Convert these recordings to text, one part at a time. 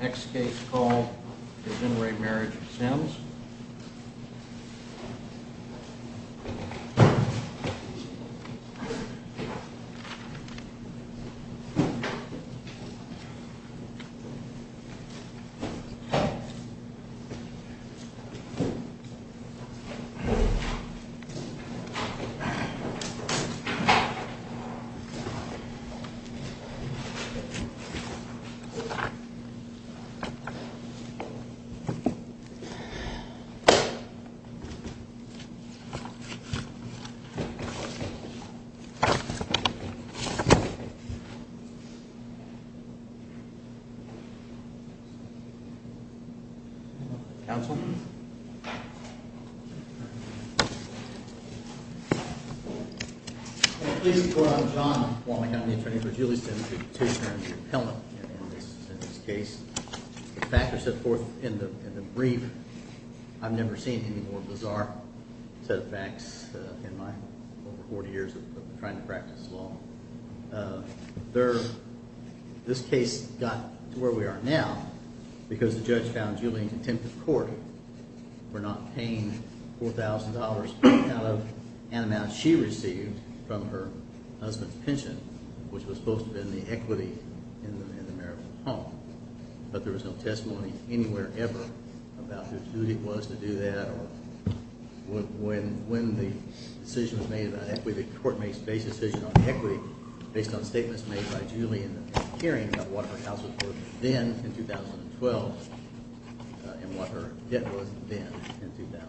Next case called the Gin Raemarriage Sims. Please report, I'm John Wallingham, the attorney for Julie Sims, the petitioner and the appellant. In this case, the factors set forth in the brief, I've never seen any more bizarre set of facts in my over 40 years of trying to practice law. This case got to where we are now because the judge found Julie in contempt of court for not paying $4,000 out of an amount she received from her husband's pension, which was supposed to have been the equity in the marital home. But there was no testimony anywhere ever about whose duty it was to do that or when the decision was made about equity. The court makes a base decision on equity based on statements made by Julie in the hearing about what her house was worth then in 2012 and what her debt was then in 2012.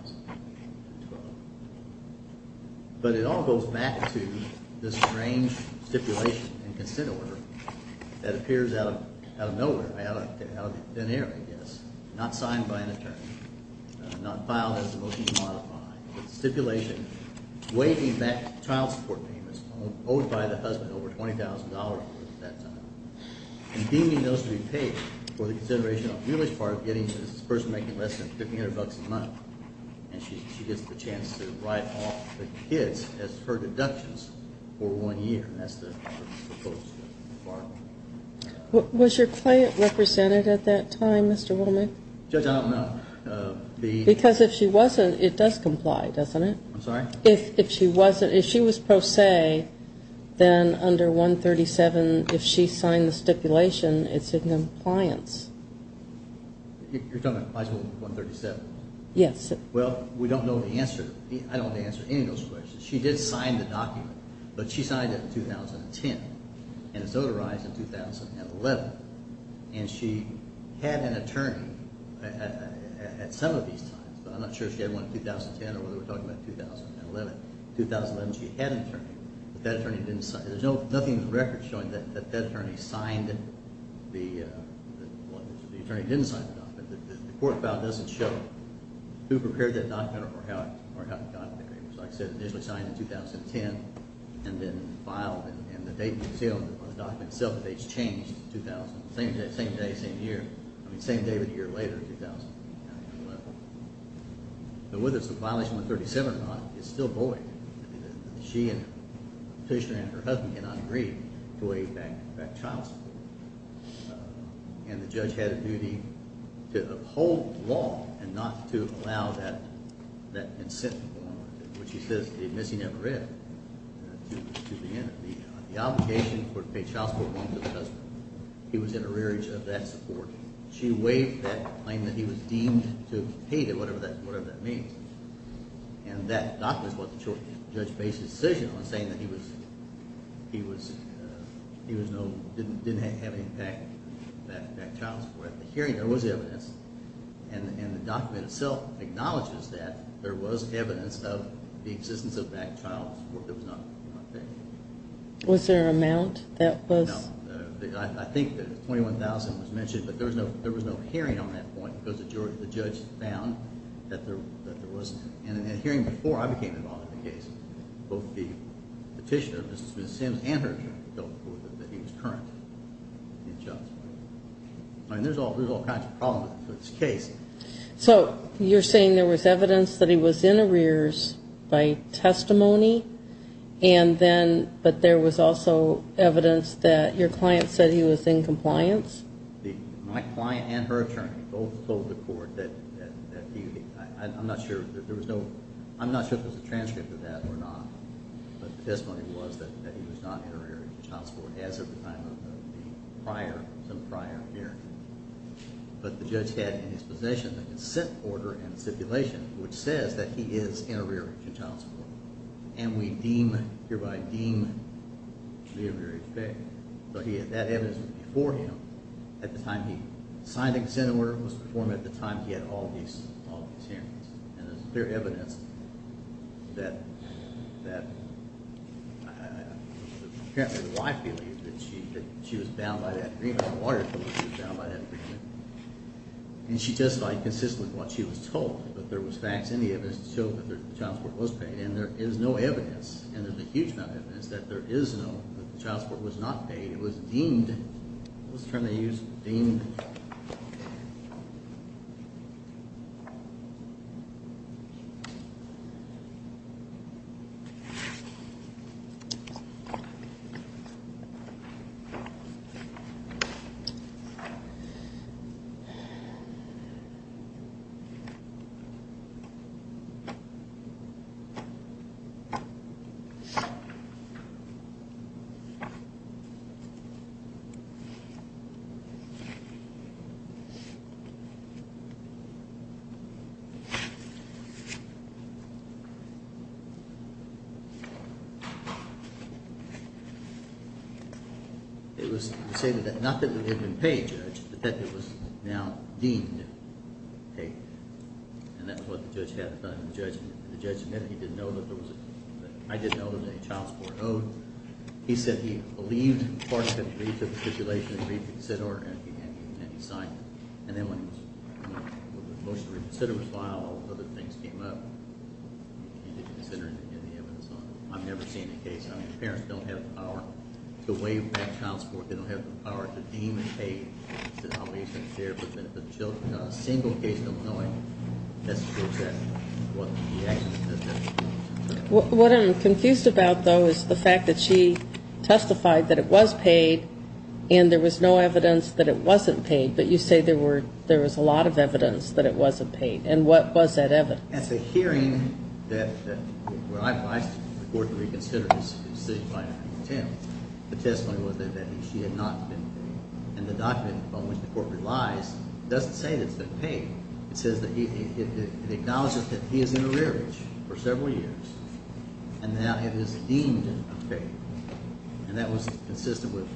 But it all goes back to this strange stipulation and consent order that appears out of nowhere, out of thin air I guess, not signed by an attorney, not filed as a motion to modify. It's a stipulation waiving back child support payments owed by the husband over $20,000 at that time and deeming those to be paid for the consideration of Julie's part of getting this person making less than $1,500 a month. And she gets the chance to write off the kids as her deductions for one year and that's the proposed requirement. Was your client represented at that time, Mr. Wallingham? Judge, I don't know. Because if she wasn't, it does comply, doesn't it? I'm sorry? If she was pro se, then under 137, if she signed the stipulation, it's in compliance. You're talking about Article 137? Yes. Well, we don't know the answer. I don't know the answer to any of those questions. She did sign the document, but she signed it in 2010 and it's notarized in 2011. And she had an attorney at some of these times, but I'm not sure if she had one in 2010 or whether we're talking about 2011. In 2011 she had an attorney, but that attorney didn't sign it. Or how the document was prepared. Like I said, it was initially signed in 2010 and then filed. And the date on the document itself, the date's changed to 2000. Same day, same year. I mean, same day, but a year later in 2011. But whether it's a violation of 137 or not, it's still void. I mean, she and Patricia and her husband cannot agree to a bank child support. And the judge had a duty to uphold the law and not to allow that incentive, which he says he admits he never read, to be in it. The obligation for a child support loan to the husband. He was in a rearage of that support. She waived that claim that he was deemed to have paid it, whatever that means. And that document wasn't short. The judge based his decision on saying that he didn't have any bank child support. At the hearing there was evidence, and the document itself acknowledges that there was evidence of the existence of bank child support that was not paid. Was there an amount that was? No. I think the $21,000 was mentioned, but there was no hearing on that point because the judge found that there wasn't. And in that hearing before I became involved in the case, both the petitioner, Ms. Sims, and her attorney felt that he was current in child support. I mean, there's all kinds of problems with this case. So you're saying there was evidence that he was in arrears by testimony, and then, but there was also evidence that your client said he was in compliance? My client and her attorney both told the court that he, I'm not sure if there was a transcript of that or not, but the testimony was that he was not in arrears in child support as of the time of the prior hearing. But the judge had in his possession the consent order and stipulation which says that he is in arrears in child support. And we deem, hereby deem, the arrears paid. So he had that evidence before him at the time he signed the consent order was performed at the time he had all these hearings. And there's clear evidence that apparently the wife believed that she was bound by that agreement. The lawyer told her she was bound by that agreement. And she testified consistently to what she was told, that there was facts in the evidence to show that the child support was paid. And there is no evidence, and there's a huge amount of evidence that there is no, that the child support was not paid. It was deemed, what's the term they use? Deemed. It was the same, not that it had been paid, Judge, but that it was deemed that the child support was not paid. It was now deemed paid. And that's what the judge had done. The judge admitted he didn't know that there was, I didn't know there was any child support owed. He said he believed Clark had read the stipulation, read the consent order, and he signed it. And then when the motion to reconsider was filed, other things came up. He didn't consider any evidence on it. I've never seen a case, I mean, parents don't have the power to waive that child support. They don't have the power to deem it paid. I'll be sincere, but a single case in Illinois, that's the truth of that. What the action is, that's the truth of that. What I'm confused about, though, is the fact that she testified that it was paid, and there was no evidence that it wasn't paid. But you say there was a lot of evidence that it wasn't paid. And what was that evidence? It's a hearing that, where I've asked the court to reconsider this, the testimony was that she had not been paid. And the document on which the court relies doesn't say that it's been paid. It says that it acknowledges that he is in arrearage for several years, and that it is deemed paid. And that was consistent with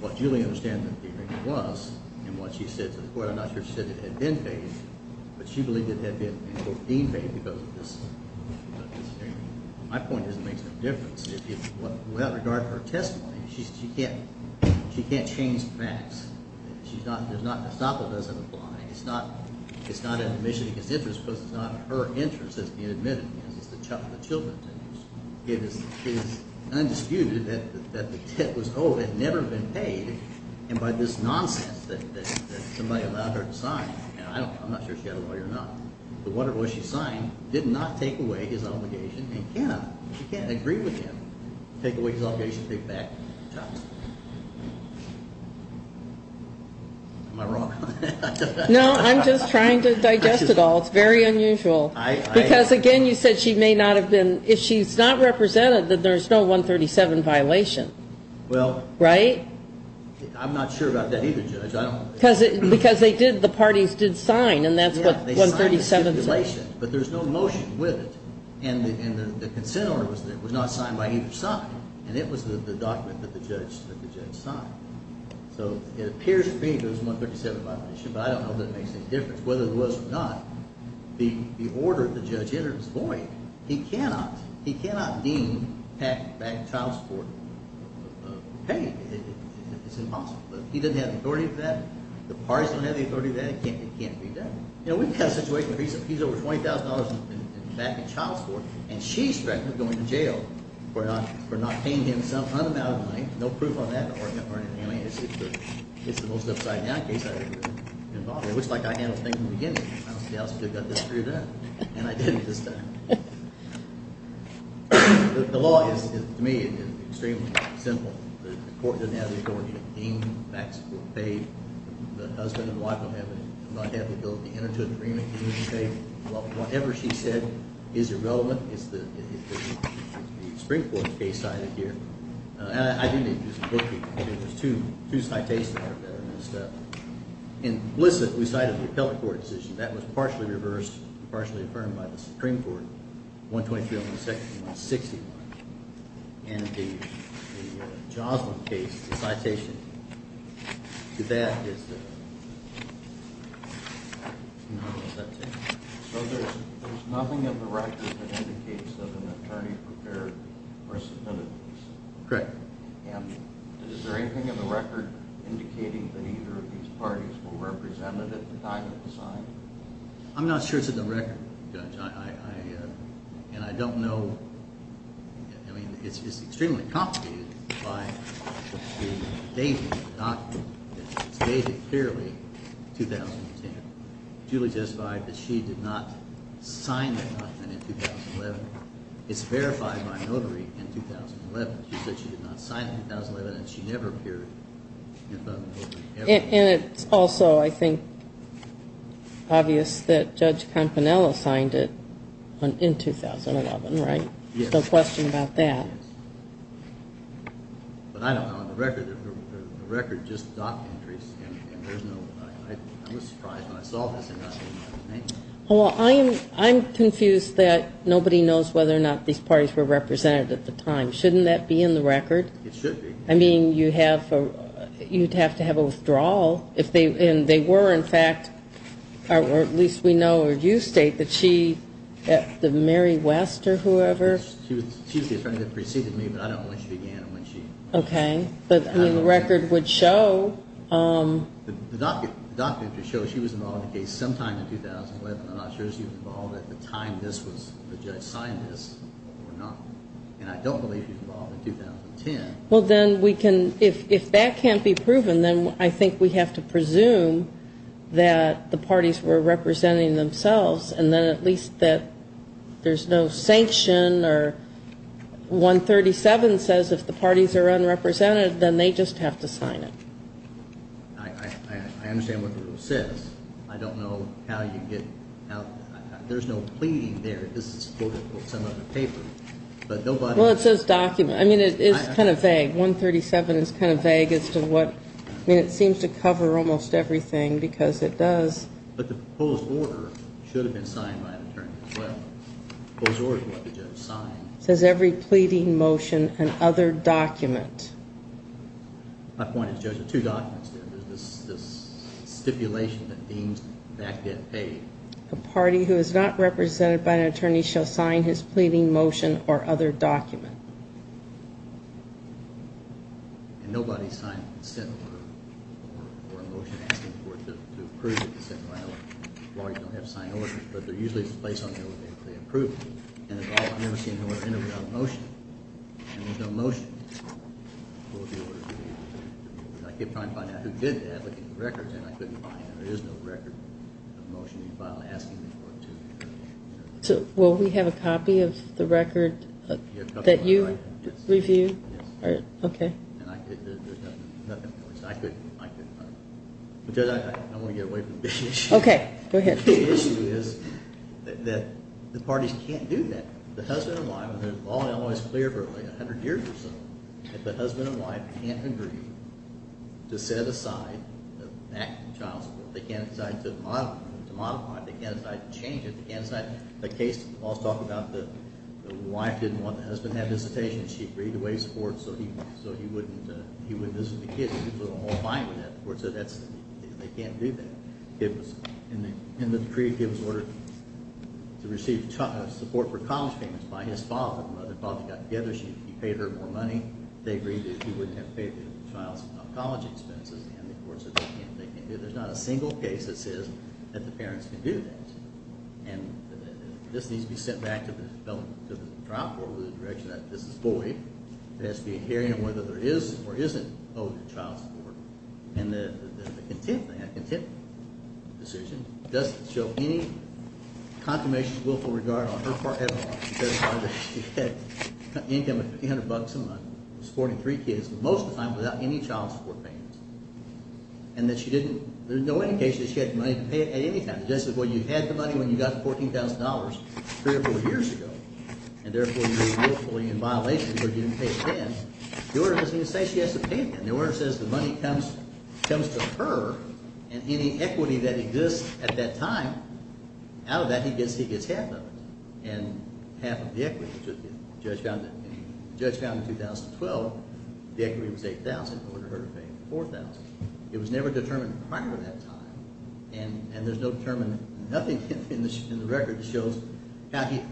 what Julie understands the hearing was, and what she said to the court. I'm not sure she said it had been paid, but she believed it had been, in court, deemed paid because of this hearing. My point is it makes no difference. Without regard to her testimony, she can't change the facts. There's not a stop that doesn't apply. It's not an admission against interest because it's not her interest that's being admitted against. It's the children's interest. It is undisputed that the tip was owed, had never been paid, and by this nonsense that somebody allowed her to sign. I'm not sure she had a lawyer or not. The wonder was she signed, did not take away his obligation, and can't. She can't agree with him, take away his obligation, take it back. Am I wrong on that? No, I'm just trying to digest it all. It's very unusual. Because, again, you said she may not have been. If she's not represented, then there's no 137 violation. Well. Right? I'm not sure about that either, Judge. Because the parties did sign, and that's what 137 says. But there's no motion with it, and the consent order was not signed by either side, and it was the document that the judge signed. So it appears to me that it was 137 violation, but I don't know if that makes any difference. Whether it was or not, the order the judge entered was void. He cannot deem child support paid. It's impossible. He doesn't have the authority to do that. The parties don't have the authority to do that. It can't be done. You know, we've had a situation recently. He's over $20,000 in child support, and she's threatened with going to jail for not paying him some unamounted money. No proof on that. It's the most upside-down case I've ever been involved in. It looks like I handled things in the beginning. I don't see how somebody got this screwed up, and I didn't this time. The law is, to me, extremely simple. The court doesn't have the authority to deem child support paid. The husband and wife don't have the ability to enter into an agreement to deem it paid. Whatever she said is irrelevant. It's the Supreme Court's case cited here. I didn't even use the book. It was two citations. Implicit, we cited the appellate court decision. That was partially reversed and partially affirmed by the Supreme Court, 123-161. And the Joslin case, the citation to that is the... I don't know what that says. So there's nothing in the record that indicates that an attorney prepared or submitted this? Correct. And is there anything in the record indicating that either of these parties were represented at the time of the sign? I'm not sure it's in the record, Judge. And I don't know. I mean, it's extremely complicated by the date of the document. It's dated clearly 2010. Julie testified that she did not sign that document in 2011. It's verified by a notary in 2011. She said she did not sign it in 2011, and she never appeared in front of a notary. And it's also, I think, obvious that Judge Campanello signed it in 2011, right? Yes. So question about that. But I don't know. On the record, the record just docked entries, and there's no... I was surprised when I saw this. Well, I'm confused that nobody knows whether or not these parties were represented at the time. Shouldn't that be in the record? It should be. I mean, you'd have to have a withdrawal. And they were, in fact, or at least we know or you state that she, Mary West or whoever. She was the attorney that preceded me, but I don't know when she began or when she... Okay. But the record would show... The document just shows she was involved in the case sometime in 2011. I'm not sure she was involved at the time this was, the judge signed this or not. And I don't believe she was involved in 2010. Well, then we can... If that can't be proven, then I think we have to presume that the parties were representing themselves and then at least that there's no sanction or 137 says if the parties are unrepresented, then they just have to sign it. I understand what the rule says. I don't know how you get... There's no pleading there. This is quoted from some other paper. But nobody... Well, it says document. I mean, it is kind of vague. 137 is kind of vague as to what... I mean, it seems to cover almost everything because it does... But the proposed order should have been signed by an attorney as well. The proposed order is what the judge signed. It says every pleading motion and other document. My point is, Judge, there are two documents there. There's this stipulation that deems that get paid. A party who is not represented by an attorney shall sign his pleading motion or other document. And nobody signed a consent order or a motion asking for it to approve the consent file. Lawyers don't have to sign orders, but they're usually placed on there when they approve it. And I've never seen an order entered without a motion. And there's no motion. I keep trying to find out who did that. And I couldn't find it. There is no record of a motion being filed asking for it to be approved. So will we have a copy of the record that you reviewed? Yes. Okay. And there's nothing... I couldn't find it. I want to get away from the issue. Okay. Go ahead. The issue is that the parties can't do that. The husband and wife, and the law is clear for like 100 years or so, that the husband and wife can't agree to set aside the back of the child support. They can't decide to modify it. They can't decide to change it. They can't decide the case. The law is talking about the wife didn't want the husband to have visitation. She agreed to waive support so he wouldn't visit the kids. The kids were all fine with that. The court said they can't do that. In the decree, the kid was ordered to receive support for college payments by his father. The father got together. He paid her more money. They agreed that he wouldn't have paid the child's college expenses. And the court said they can't do that. There's not a single case that says that the parents can do that. And this needs to be sent back to the trial court with the direction that this is void. There has to be a hearing on whether there is or isn't owed child support. And the contempt thing, the contempt decision, doesn't show any confirmation of willful regard on her part at all. She said she had income of $1,500 a month, supporting three kids, most of the time without any child support payments. And that she didn't, there's no indication that she had the money to pay it at any time. The judge said, well, you had the money when you got the $14,000 three or four years ago. And therefore, you're willfully in violation because you didn't pay it then. The order doesn't even say she has to pay it then. And the order says the money comes to her and any equity that exists at that time, out of that he gets half of it and half of the equity. The judge found in 2012 the equity was $8,000 in order for her to pay $4,000. It was never determined prior to that time. And there's no determined, nothing in the record that shows how he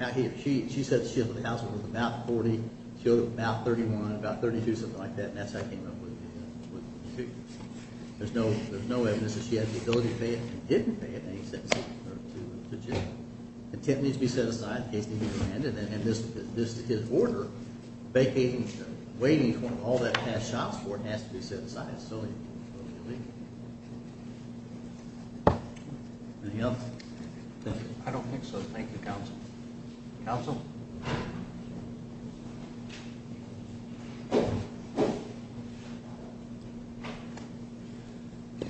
or she, she said she had a household worth about $40,000, she owed about $31,000, about $32,000, something like that. And that's how he came up with the figure. There's no evidence that she had the ability to pay it and didn't pay it in any sense to Jim. The tent needs to be set aside in case they need to land it. And this is his order. Vacating, waiting for all that has shots for it has to be set aside. Anything else? I don't think so. Thank you, counsel. Counsel?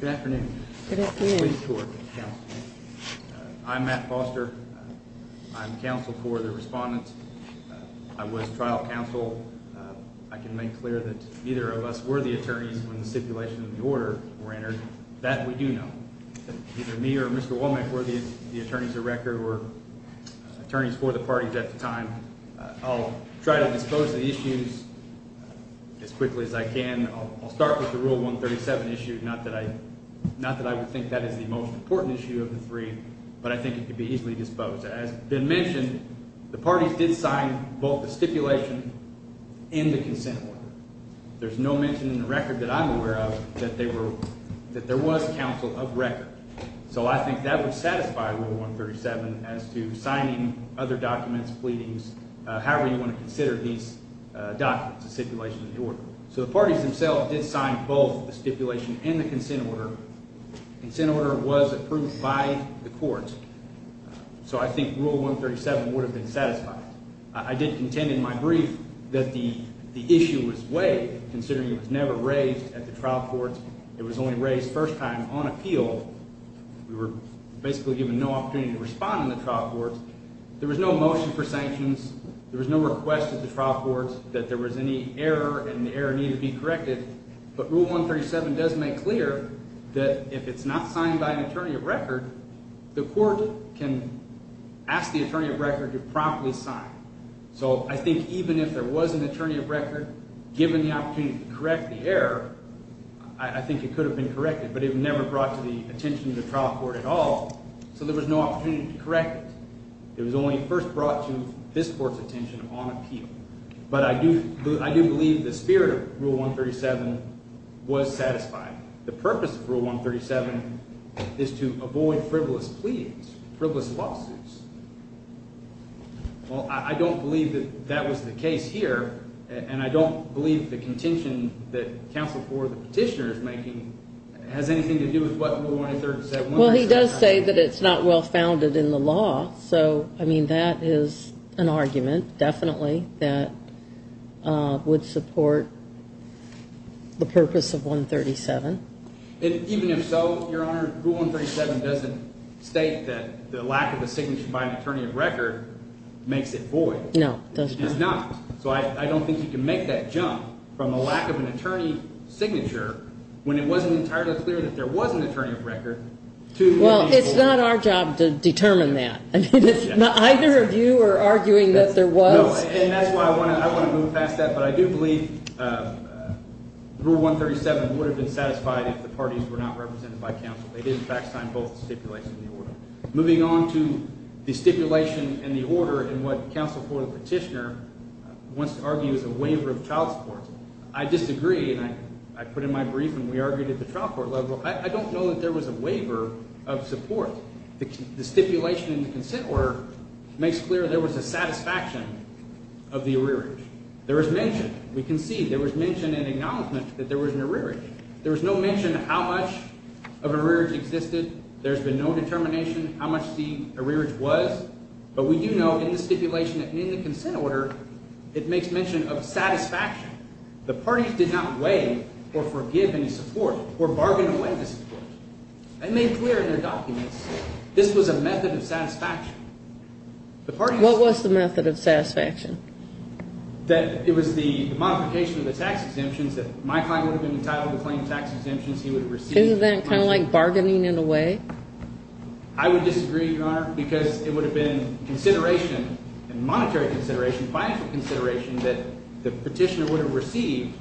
Good afternoon. Good afternoon. I'm Matt Foster. I'm counsel for the respondents. I was trial counsel. I can make clear that either of us were the attorneys when the stipulation of the order were entered. That we do know. Either me or Mr. Womack were the attorneys of record or attorneys for the parties at the time. I'll try to dispose of the issues as quickly as I can. I'll start with the Rule 137 issue, not that I would think that is the most important issue of the three, but I think it could be easily disposed of. As has been mentioned, the parties did sign both the stipulation and the consent order. There's no mention in the record that I'm aware of that there was counsel of record. So I think that would satisfy Rule 137 as to signing other documents, pleadings, however you want to consider these documents, the stipulation of the order. So the parties themselves did sign both the stipulation and the consent order. Consent order was approved by the court. So I think Rule 137 would have been satisfied. I did contend in my brief that the issue was waived, considering it was never raised at the trial courts. It was only raised first time on appeal. We were basically given no opportunity to respond in the trial courts. There was no motion for sanctions. There was no request at the trial courts that there was any error and the error needed to be corrected. But Rule 137 does make clear that if it's not signed by an attorney of record, the court can ask the attorney of record to promptly sign. So I think even if there was an attorney of record given the opportunity to correct the error, I think it could have been corrected, but it never brought to the attention of the trial court at all. So there was no opportunity to correct it. It was only first brought to this court's attention on appeal. But I do believe the spirit of Rule 137 was satisfied. The purpose of Rule 137 is to avoid frivolous pleas, frivolous lawsuits. Well, I don't believe that that was the case here, and I don't believe the contention that Counsel for the Petitioner is making has anything to do with what Rule 183 said. Well, he does say that it's not well founded in the law. So, I mean, that is an argument definitely that would support the purpose of 137. Even if so, Your Honor, Rule 137 doesn't state that the lack of a signature by an attorney of record makes it void. No, it does not. It does not. So I don't think you can make that jump from a lack of an attorney's signature when it wasn't entirely clear that there was an attorney of record. Well, it's not our job to determine that. I mean, it's not either of you are arguing that there was. No, and that's why I want to move past that. But I do believe Rule 137 would have been satisfied if the parties were not represented by counsel. They didn't back sign both the stipulation and the order. Moving on to the stipulation and the order and what Counsel for the Petitioner wants to argue is a waiver of child support. I disagree, and I put in my brief and we argued at the trial court level. I don't know that there was a waiver of support. The stipulation in the consent order makes clear there was a satisfaction of the arrearage. There is mention. We can see there was mention and acknowledgment that there was an arrearage. There was no mention of how much of an arrearage existed. There's been no determination how much the arrearage was. But we do know in the stipulation and in the consent order, it makes mention of satisfaction. The parties did not waive or forgive any support or bargain away the support. They made clear in their documents this was a method of satisfaction. What was the method of satisfaction? That it was the modification of the tax exemptions that my client would have been entitled to claim tax exemptions. He would have received. Isn't that kind of like bargaining in a way? I would disagree, Your Honor, because it would have been consideration and monetary consideration, financial consideration that the petitioner would have received.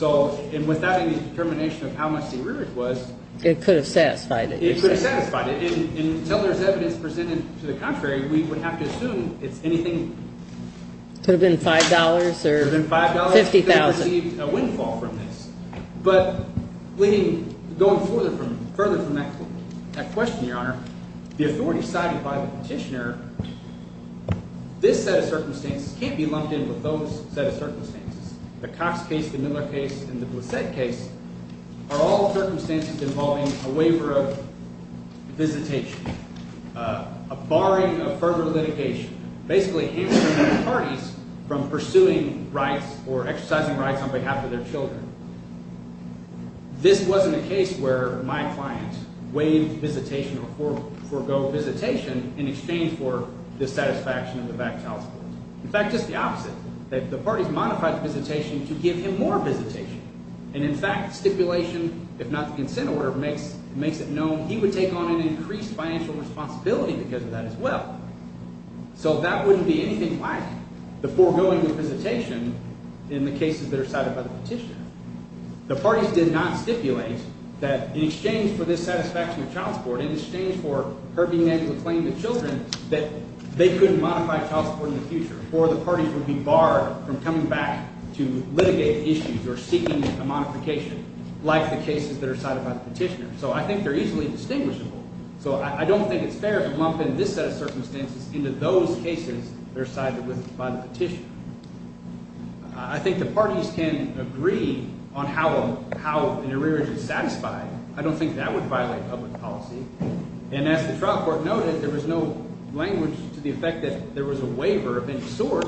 And without any determination of how much the arrearage was. It could have satisfied it. It could have satisfied it. And until there's evidence presented to the contrary, we would have to assume it's anything. Could have been $5 or $50,000. Could have received a windfall from this. But going further from that question, Your Honor, the authority cited by the petitioner, this set of circumstances can't be lumped in with those set of circumstances. The Cox case, the Miller case, and the Blissett case are all circumstances involving a waiver of visitation. A barring of further litigation. Basically hampering parties from pursuing rights or exercising rights on behalf of their children. This wasn't a case where my client waived visitation or forgo visitation in exchange for dissatisfaction of the back child support. In fact, just the opposite. The parties modified the visitation to give him more visitation. And in fact, stipulation, if not the consent order, makes it known he would take on an increased financial responsibility because of that as well. So that wouldn't be anything like the foregoing of visitation in the cases that are cited by the petitioner. The parties did not stipulate that in exchange for this satisfaction of child support, in exchange for her being able to claim the children, that they could modify child support in the future. Or the parties would be barred from coming back to litigate issues or seeking a modification like the cases that are cited by the petitioner. So I think they're easily distinguishable. So I don't think it's fair to lump in this set of circumstances into those cases that are cited by the petitioner. I think the parties can agree on how an arrearage is satisfied. I don't think that would violate public policy. And as the trial court noted, there was no language to the effect that there was a waiver of any sort.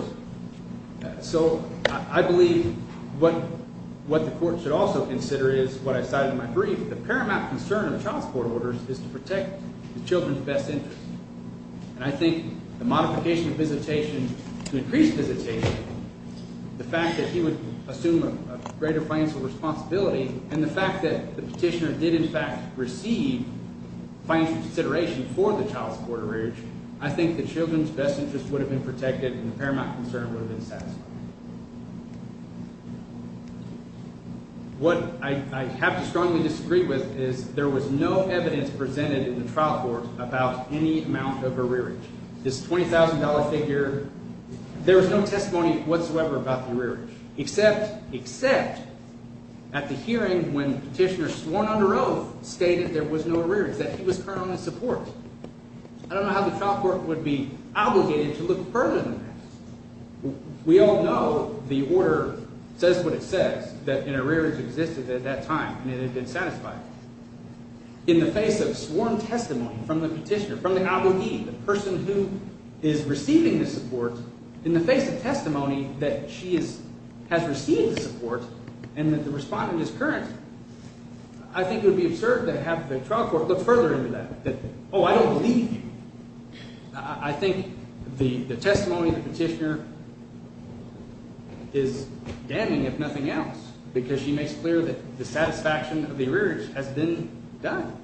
So I believe what the court should also consider is what I cited in my brief. The paramount concern of child support orders is to protect the children's best interest. And I think the modification of visitation to increase visitation, the fact that he would assume a greater financial responsibility, and the fact that the petitioner did in fact receive financial consideration for the child support arrearage, I think the children's best interest would have been protected and the paramount concern would have been satisfied. What I have to strongly disagree with is there was no evidence presented in the trial court about any amount of arrearage. This $20,000 figure, there was no testimony whatsoever about the arrearage, except at the hearing when the petitioner sworn under oath stated there was no arrearage, that he was currently in support. I don't know how the trial court would be obligated to look further than that. We all know the order says what it says, that an arrearage existed at that time and it had been satisfied. In the face of sworn testimony from the petitioner, from the abogee, the person who is receiving the support, in the face of testimony that she has received the support and that the respondent is current, I think it would be absurd to have the trial court look further into that, that, oh, I don't believe you. I think the testimony of the petitioner is damning, if nothing else, because she makes clear that the satisfaction of the arrearage has been done.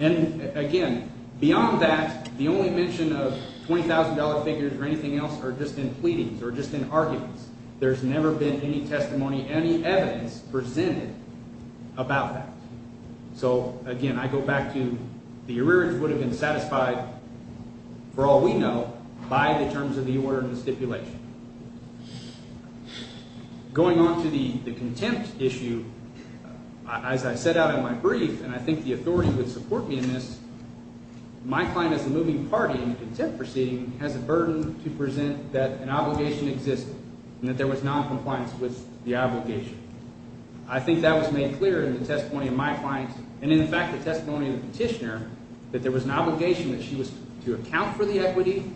And again, beyond that, the only mention of $20,000 figures or anything else are just in pleadings or just in arguments. There's never been any testimony, any evidence presented about that. So, again, I go back to the arrearage would have been satisfied, for all we know, by the terms of the order and the stipulation. Going on to the contempt issue, as I set out in my brief, and I think the authority would support me in this, my client as a moving party in the contempt proceeding has a burden to present that an obligation existed and that there was noncompliance with the obligation. I think that was made clear in the testimony of my client and, in fact, the testimony of the petitioner, that there was an obligation that she was to account for the equity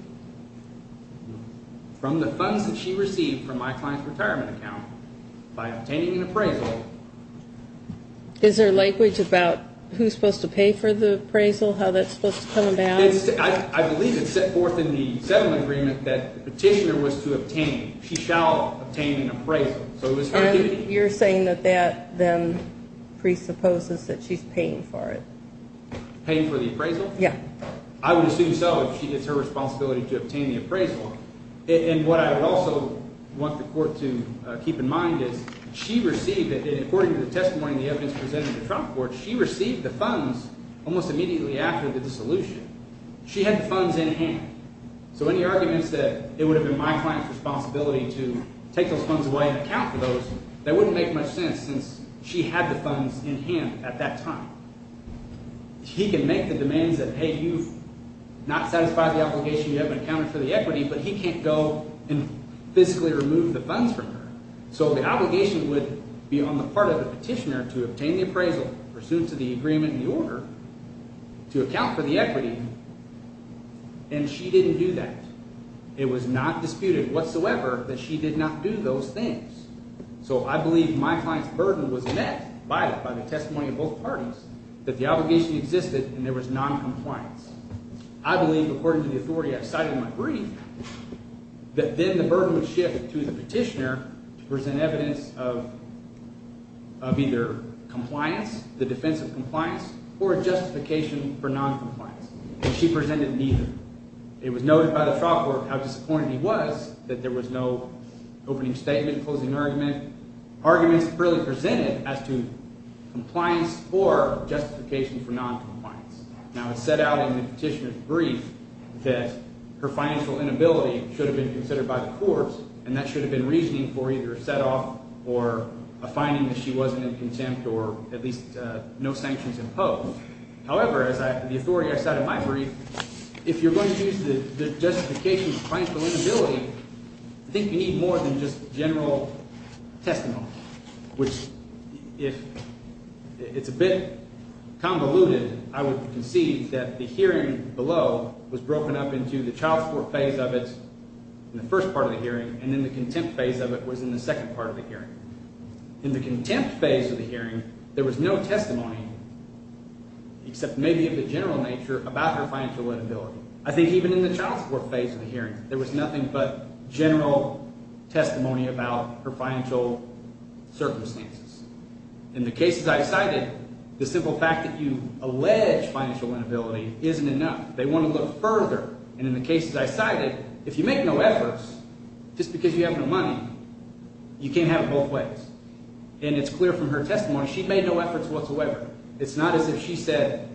from the funds that she received from my client's retirement account by obtaining an appraisal. Is there language about who's supposed to pay for the appraisal, how that's supposed to come about? I believe it's set forth in the settlement agreement that the petitioner was to obtain, she shall obtain an appraisal. And you're saying that that then presupposes that she's paying for it? Paying for the appraisal? Yeah. I would assume so if she gets her responsibility to obtain the appraisal. And what I would also want the court to keep in mind is she received it, and according to the testimony and the evidence presented in the trial court, she received the funds almost immediately after the dissolution. She had the funds in hand. So any arguments that it would have been my client's responsibility to take those funds away and account for those, that wouldn't make much sense since she had the funds in hand at that time. She can make the demands that, hey, you've not satisfied the obligation, you haven't accounted for the equity, but he can't go and physically remove the funds from her. So the obligation would be on the part of the petitioner to obtain the appraisal pursuant to the agreement and the order to account for the equity, and she didn't do that. It was not disputed whatsoever that she did not do those things. So I believe my client's burden was met by it, by the testimony of both parties, that the obligation existed and there was noncompliance. I believe, according to the authority I've cited in my brief, that then the burden would shift to the petitioner to present evidence of either compliance, the defense of compliance, or justification for noncompliance. And she presented neither. It was noted by the trial court how disappointed he was that there was no opening statement, closing argument, arguments really presented as to compliance or justification for noncompliance. Now, it's set out in the petitioner's brief that her financial inability should have been considered by the courts, and that should have been reasoning for either a setoff or a finding that she wasn't in contempt or at least no sanctions imposed. However, as the authority I cite in my brief, if you're going to use the justification for financial inability, I think you need more than just general testimony, which if it's a bit convoluted, I would concede that the hearing below was broken up into the trial court phase of it in the first part of the hearing, and then the contempt phase of it was in the second part of the hearing. In the contempt phase of the hearing, there was no testimony except maybe of the general nature about her financial inability. I think even in the child support phase of the hearing, there was nothing but general testimony about her financial circumstances. In the cases I cited, the simple fact that you allege financial inability isn't enough. They want to look further. And in the cases I cited, if you make no efforts, just because you have no money, you can't have it both ways. And it's clear from her testimony she made no efforts whatsoever. It's not as if she said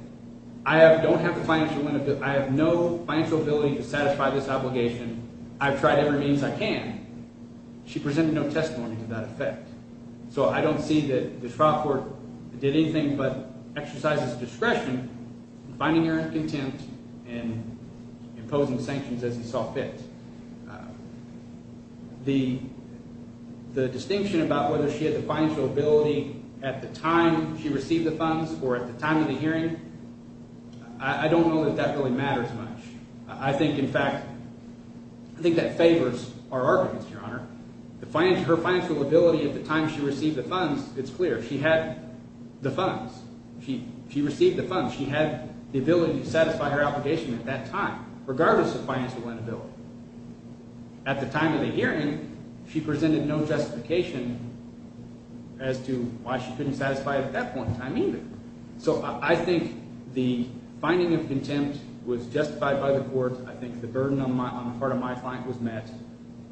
I don't have the financial – I have no financial ability to satisfy this obligation. I've tried every means I can. She presented no testimony to that effect. So I don't see that the trial court did anything but exercise its discretion in finding her in contempt and imposing sanctions as it saw fit. The distinction about whether she had the financial ability at the time she received the funds or at the time of the hearing, I don't know that that really matters much. I think, in fact – I think that favors our arguments, Your Honor. Her financial ability at the time she received the funds, it's clear. She had the funds. She received the funds. She had the ability to satisfy her obligation at that time regardless of financial inability. At the time of the hearing, she presented no justification as to why she couldn't satisfy it at that point in time either. So I think the finding of contempt was justified by the court. I think the burden on the part of my client was met,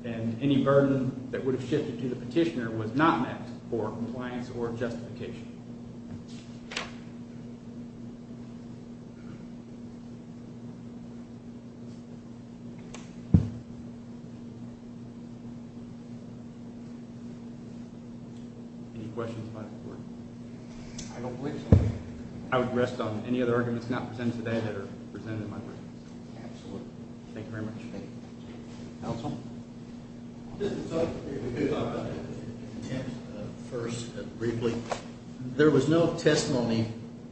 and any burden that would have shifted to the petitioner was not met for compliance or justification. Thank you. Any questions by the court? I don't believe so. I would rest on any other arguments not presented today that are presented in my brief. Absolutely. Thank you very much. Counsel? If we could talk about the contempt first briefly. There was no testimony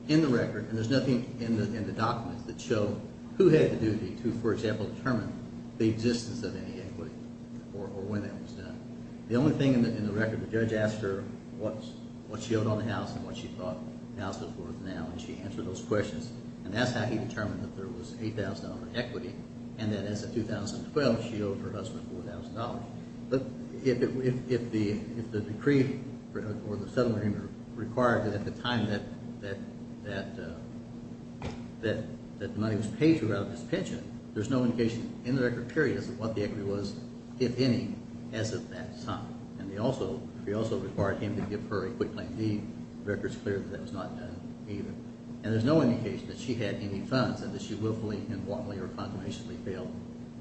in the record, and there's nothing in the documents that show who had the duty to, for example, determine the existence of any equity or when that was done. The only thing in the record, the judge asked her what she owed on the house and what she thought the house was worth now, and she answered those questions. And that's how he determined that there was $8,000 equity, and that as of 2012, she owed her husband $4,000. But if the decree or the settlement required that at the time that the money was paid to her out of his pension, there's no indication in the record period as to what the equity was, if any, as of that time. And he also required him to give her a quit claim deed. The record's clear that that was not done either. And there's no indication that she had any funds and that she willfully and wantonly or consummationally failed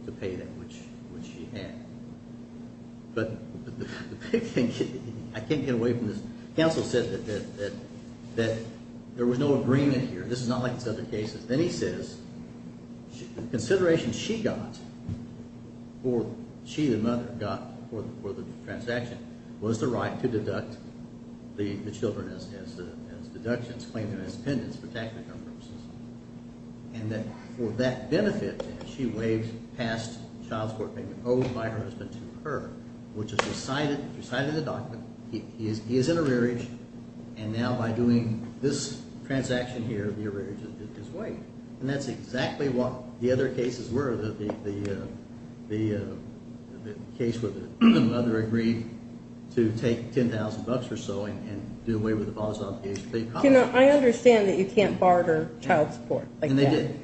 to pay that which she had. But I can't get away from this. Counsel said that there was no agreement here. This is not like this other cases. Then he says the consideration she got for – she, the mother, got for the transaction was the right to deduct the children as deductions, claim them as pendants for tax return purposes. And that for that benefit, she waived past child support payment owed by her husband to her, which is recited in the document. He is in arrearage. And now by doing this transaction here, the arrearage is waived. And that's exactly what the other cases were, the case where the mother agreed to take $10,000 or so and do away with the father's obligation to pay the college. Well, you know, I understand that you can't barter child support like that. And they did.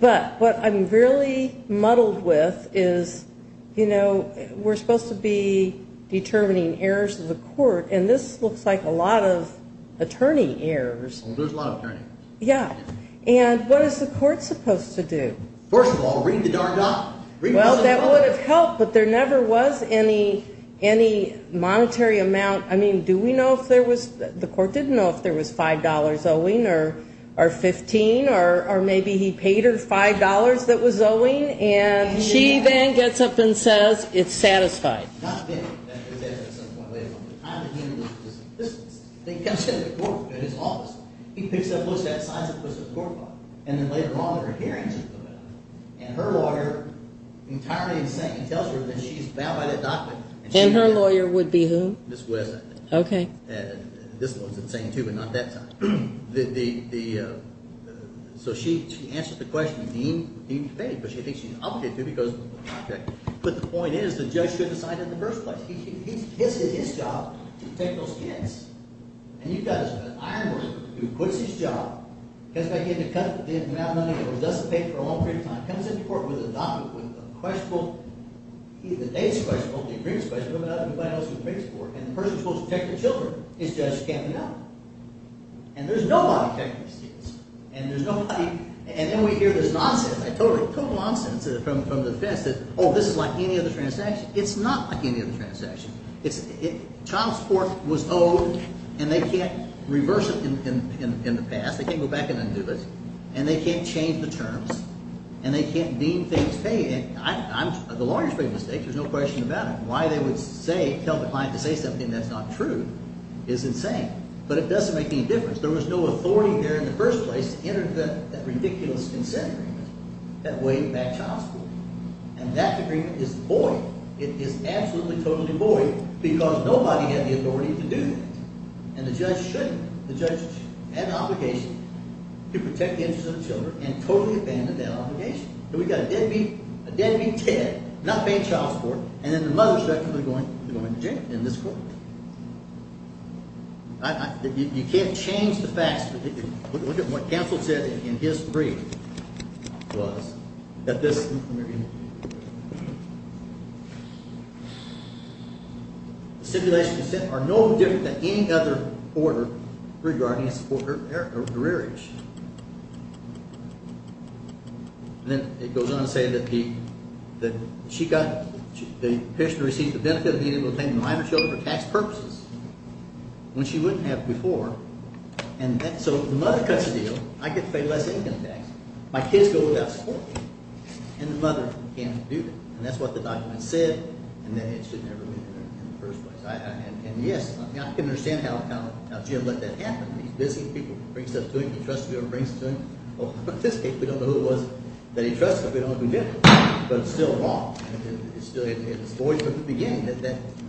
But what I'm really muddled with is, you know, we're supposed to be determining errors of the court, and this looks like a lot of attorney errors. There's a lot of attorneys. Yeah. And what is the court supposed to do? First of all, ring the darn bell. Well, that would have helped, but there never was any monetary amount. I mean, do we know if there was the court didn't know if there was $5 owing or 15, or maybe he paid her $5 that was owing? And she then gets up and says it's satisfied. Not then. That was at some point later on. The time that he was in business. He comes to the court in his office. He picks up and looks at the size of the court file. And then later on in her hearing, she comes out. And her lawyer, entirely insane, tells her that she's bound by that document. And her lawyer would be who? Ms. West, I think. Okay. This one's insane, too, but not that time. So she answers the question. He paid, but she thinks she's obligated to because of the contract. But the point is the judge should have decided in the first place. It's his job to take those hits. And you've got an iron worker who quits his job, comes back in to cut the amount of money that was just paid for a long period of time, comes into court with a document with a questionable – the date's questionable. The agreement's questionable. Nobody knows what the agreement's for. And the person who's supposed to check the children is Judge Kavanaugh. And there's nobody checking the students. And there's nobody – and then we hear this nonsense, total nonsense from the defense that, oh, this is like any other transaction. It's not like any other transaction. Child support was owed, and they can't reverse it in the past. They can't go back and undo it. And they can't change the terms. And they can't deem things – the lawyers make mistakes. There's no question about it. Why they would say – tell the client to say something that's not true is insane. But it doesn't make any difference. There was no authority there in the first place to enter into that ridiculous consent agreement that weighed back child support. And that agreement is void. It is absolutely, totally void because nobody had the authority to do that. And the judge shouldn't. The judge had an obligation to protect the interests of the children and totally abandoned that obligation. And we've got a deadbeat – a deadbeat Ted not paying child support. And then the mother should actually be going to jail in this court. You can't change the facts. What counsel said in his brief was that this – stipulation of consent are no different than any other order regarding a support for a career issue. And then it goes on to say that she got – the patient received the benefit of being able to pay the minor children for tax purposes when she wouldn't have before. And so the mother cuts the deal. I get to pay less income tax. My kids go without support. And the mother can't do it. And that's what the document said. And it should never have been there in the first place. And yes, I can understand how Jim let that happen. He's busy. People bring stuff to him. He trusts people who bring stuff to him. Well, in this case, we don't know who it was that he trusts, but we don't know who did it. But it's still wrong. It's still in his voice from the beginning. That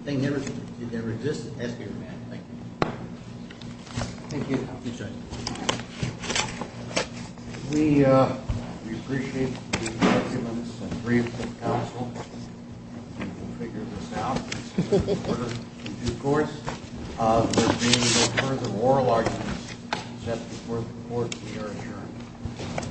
thing never – it never existed. That's the agreement. Thank you. Thank you. I appreciate it. We appreciate the excellence and brief of counsel. We can figure this out. It's an order in due course. There will be no further oral arguments except before the court is adjourned.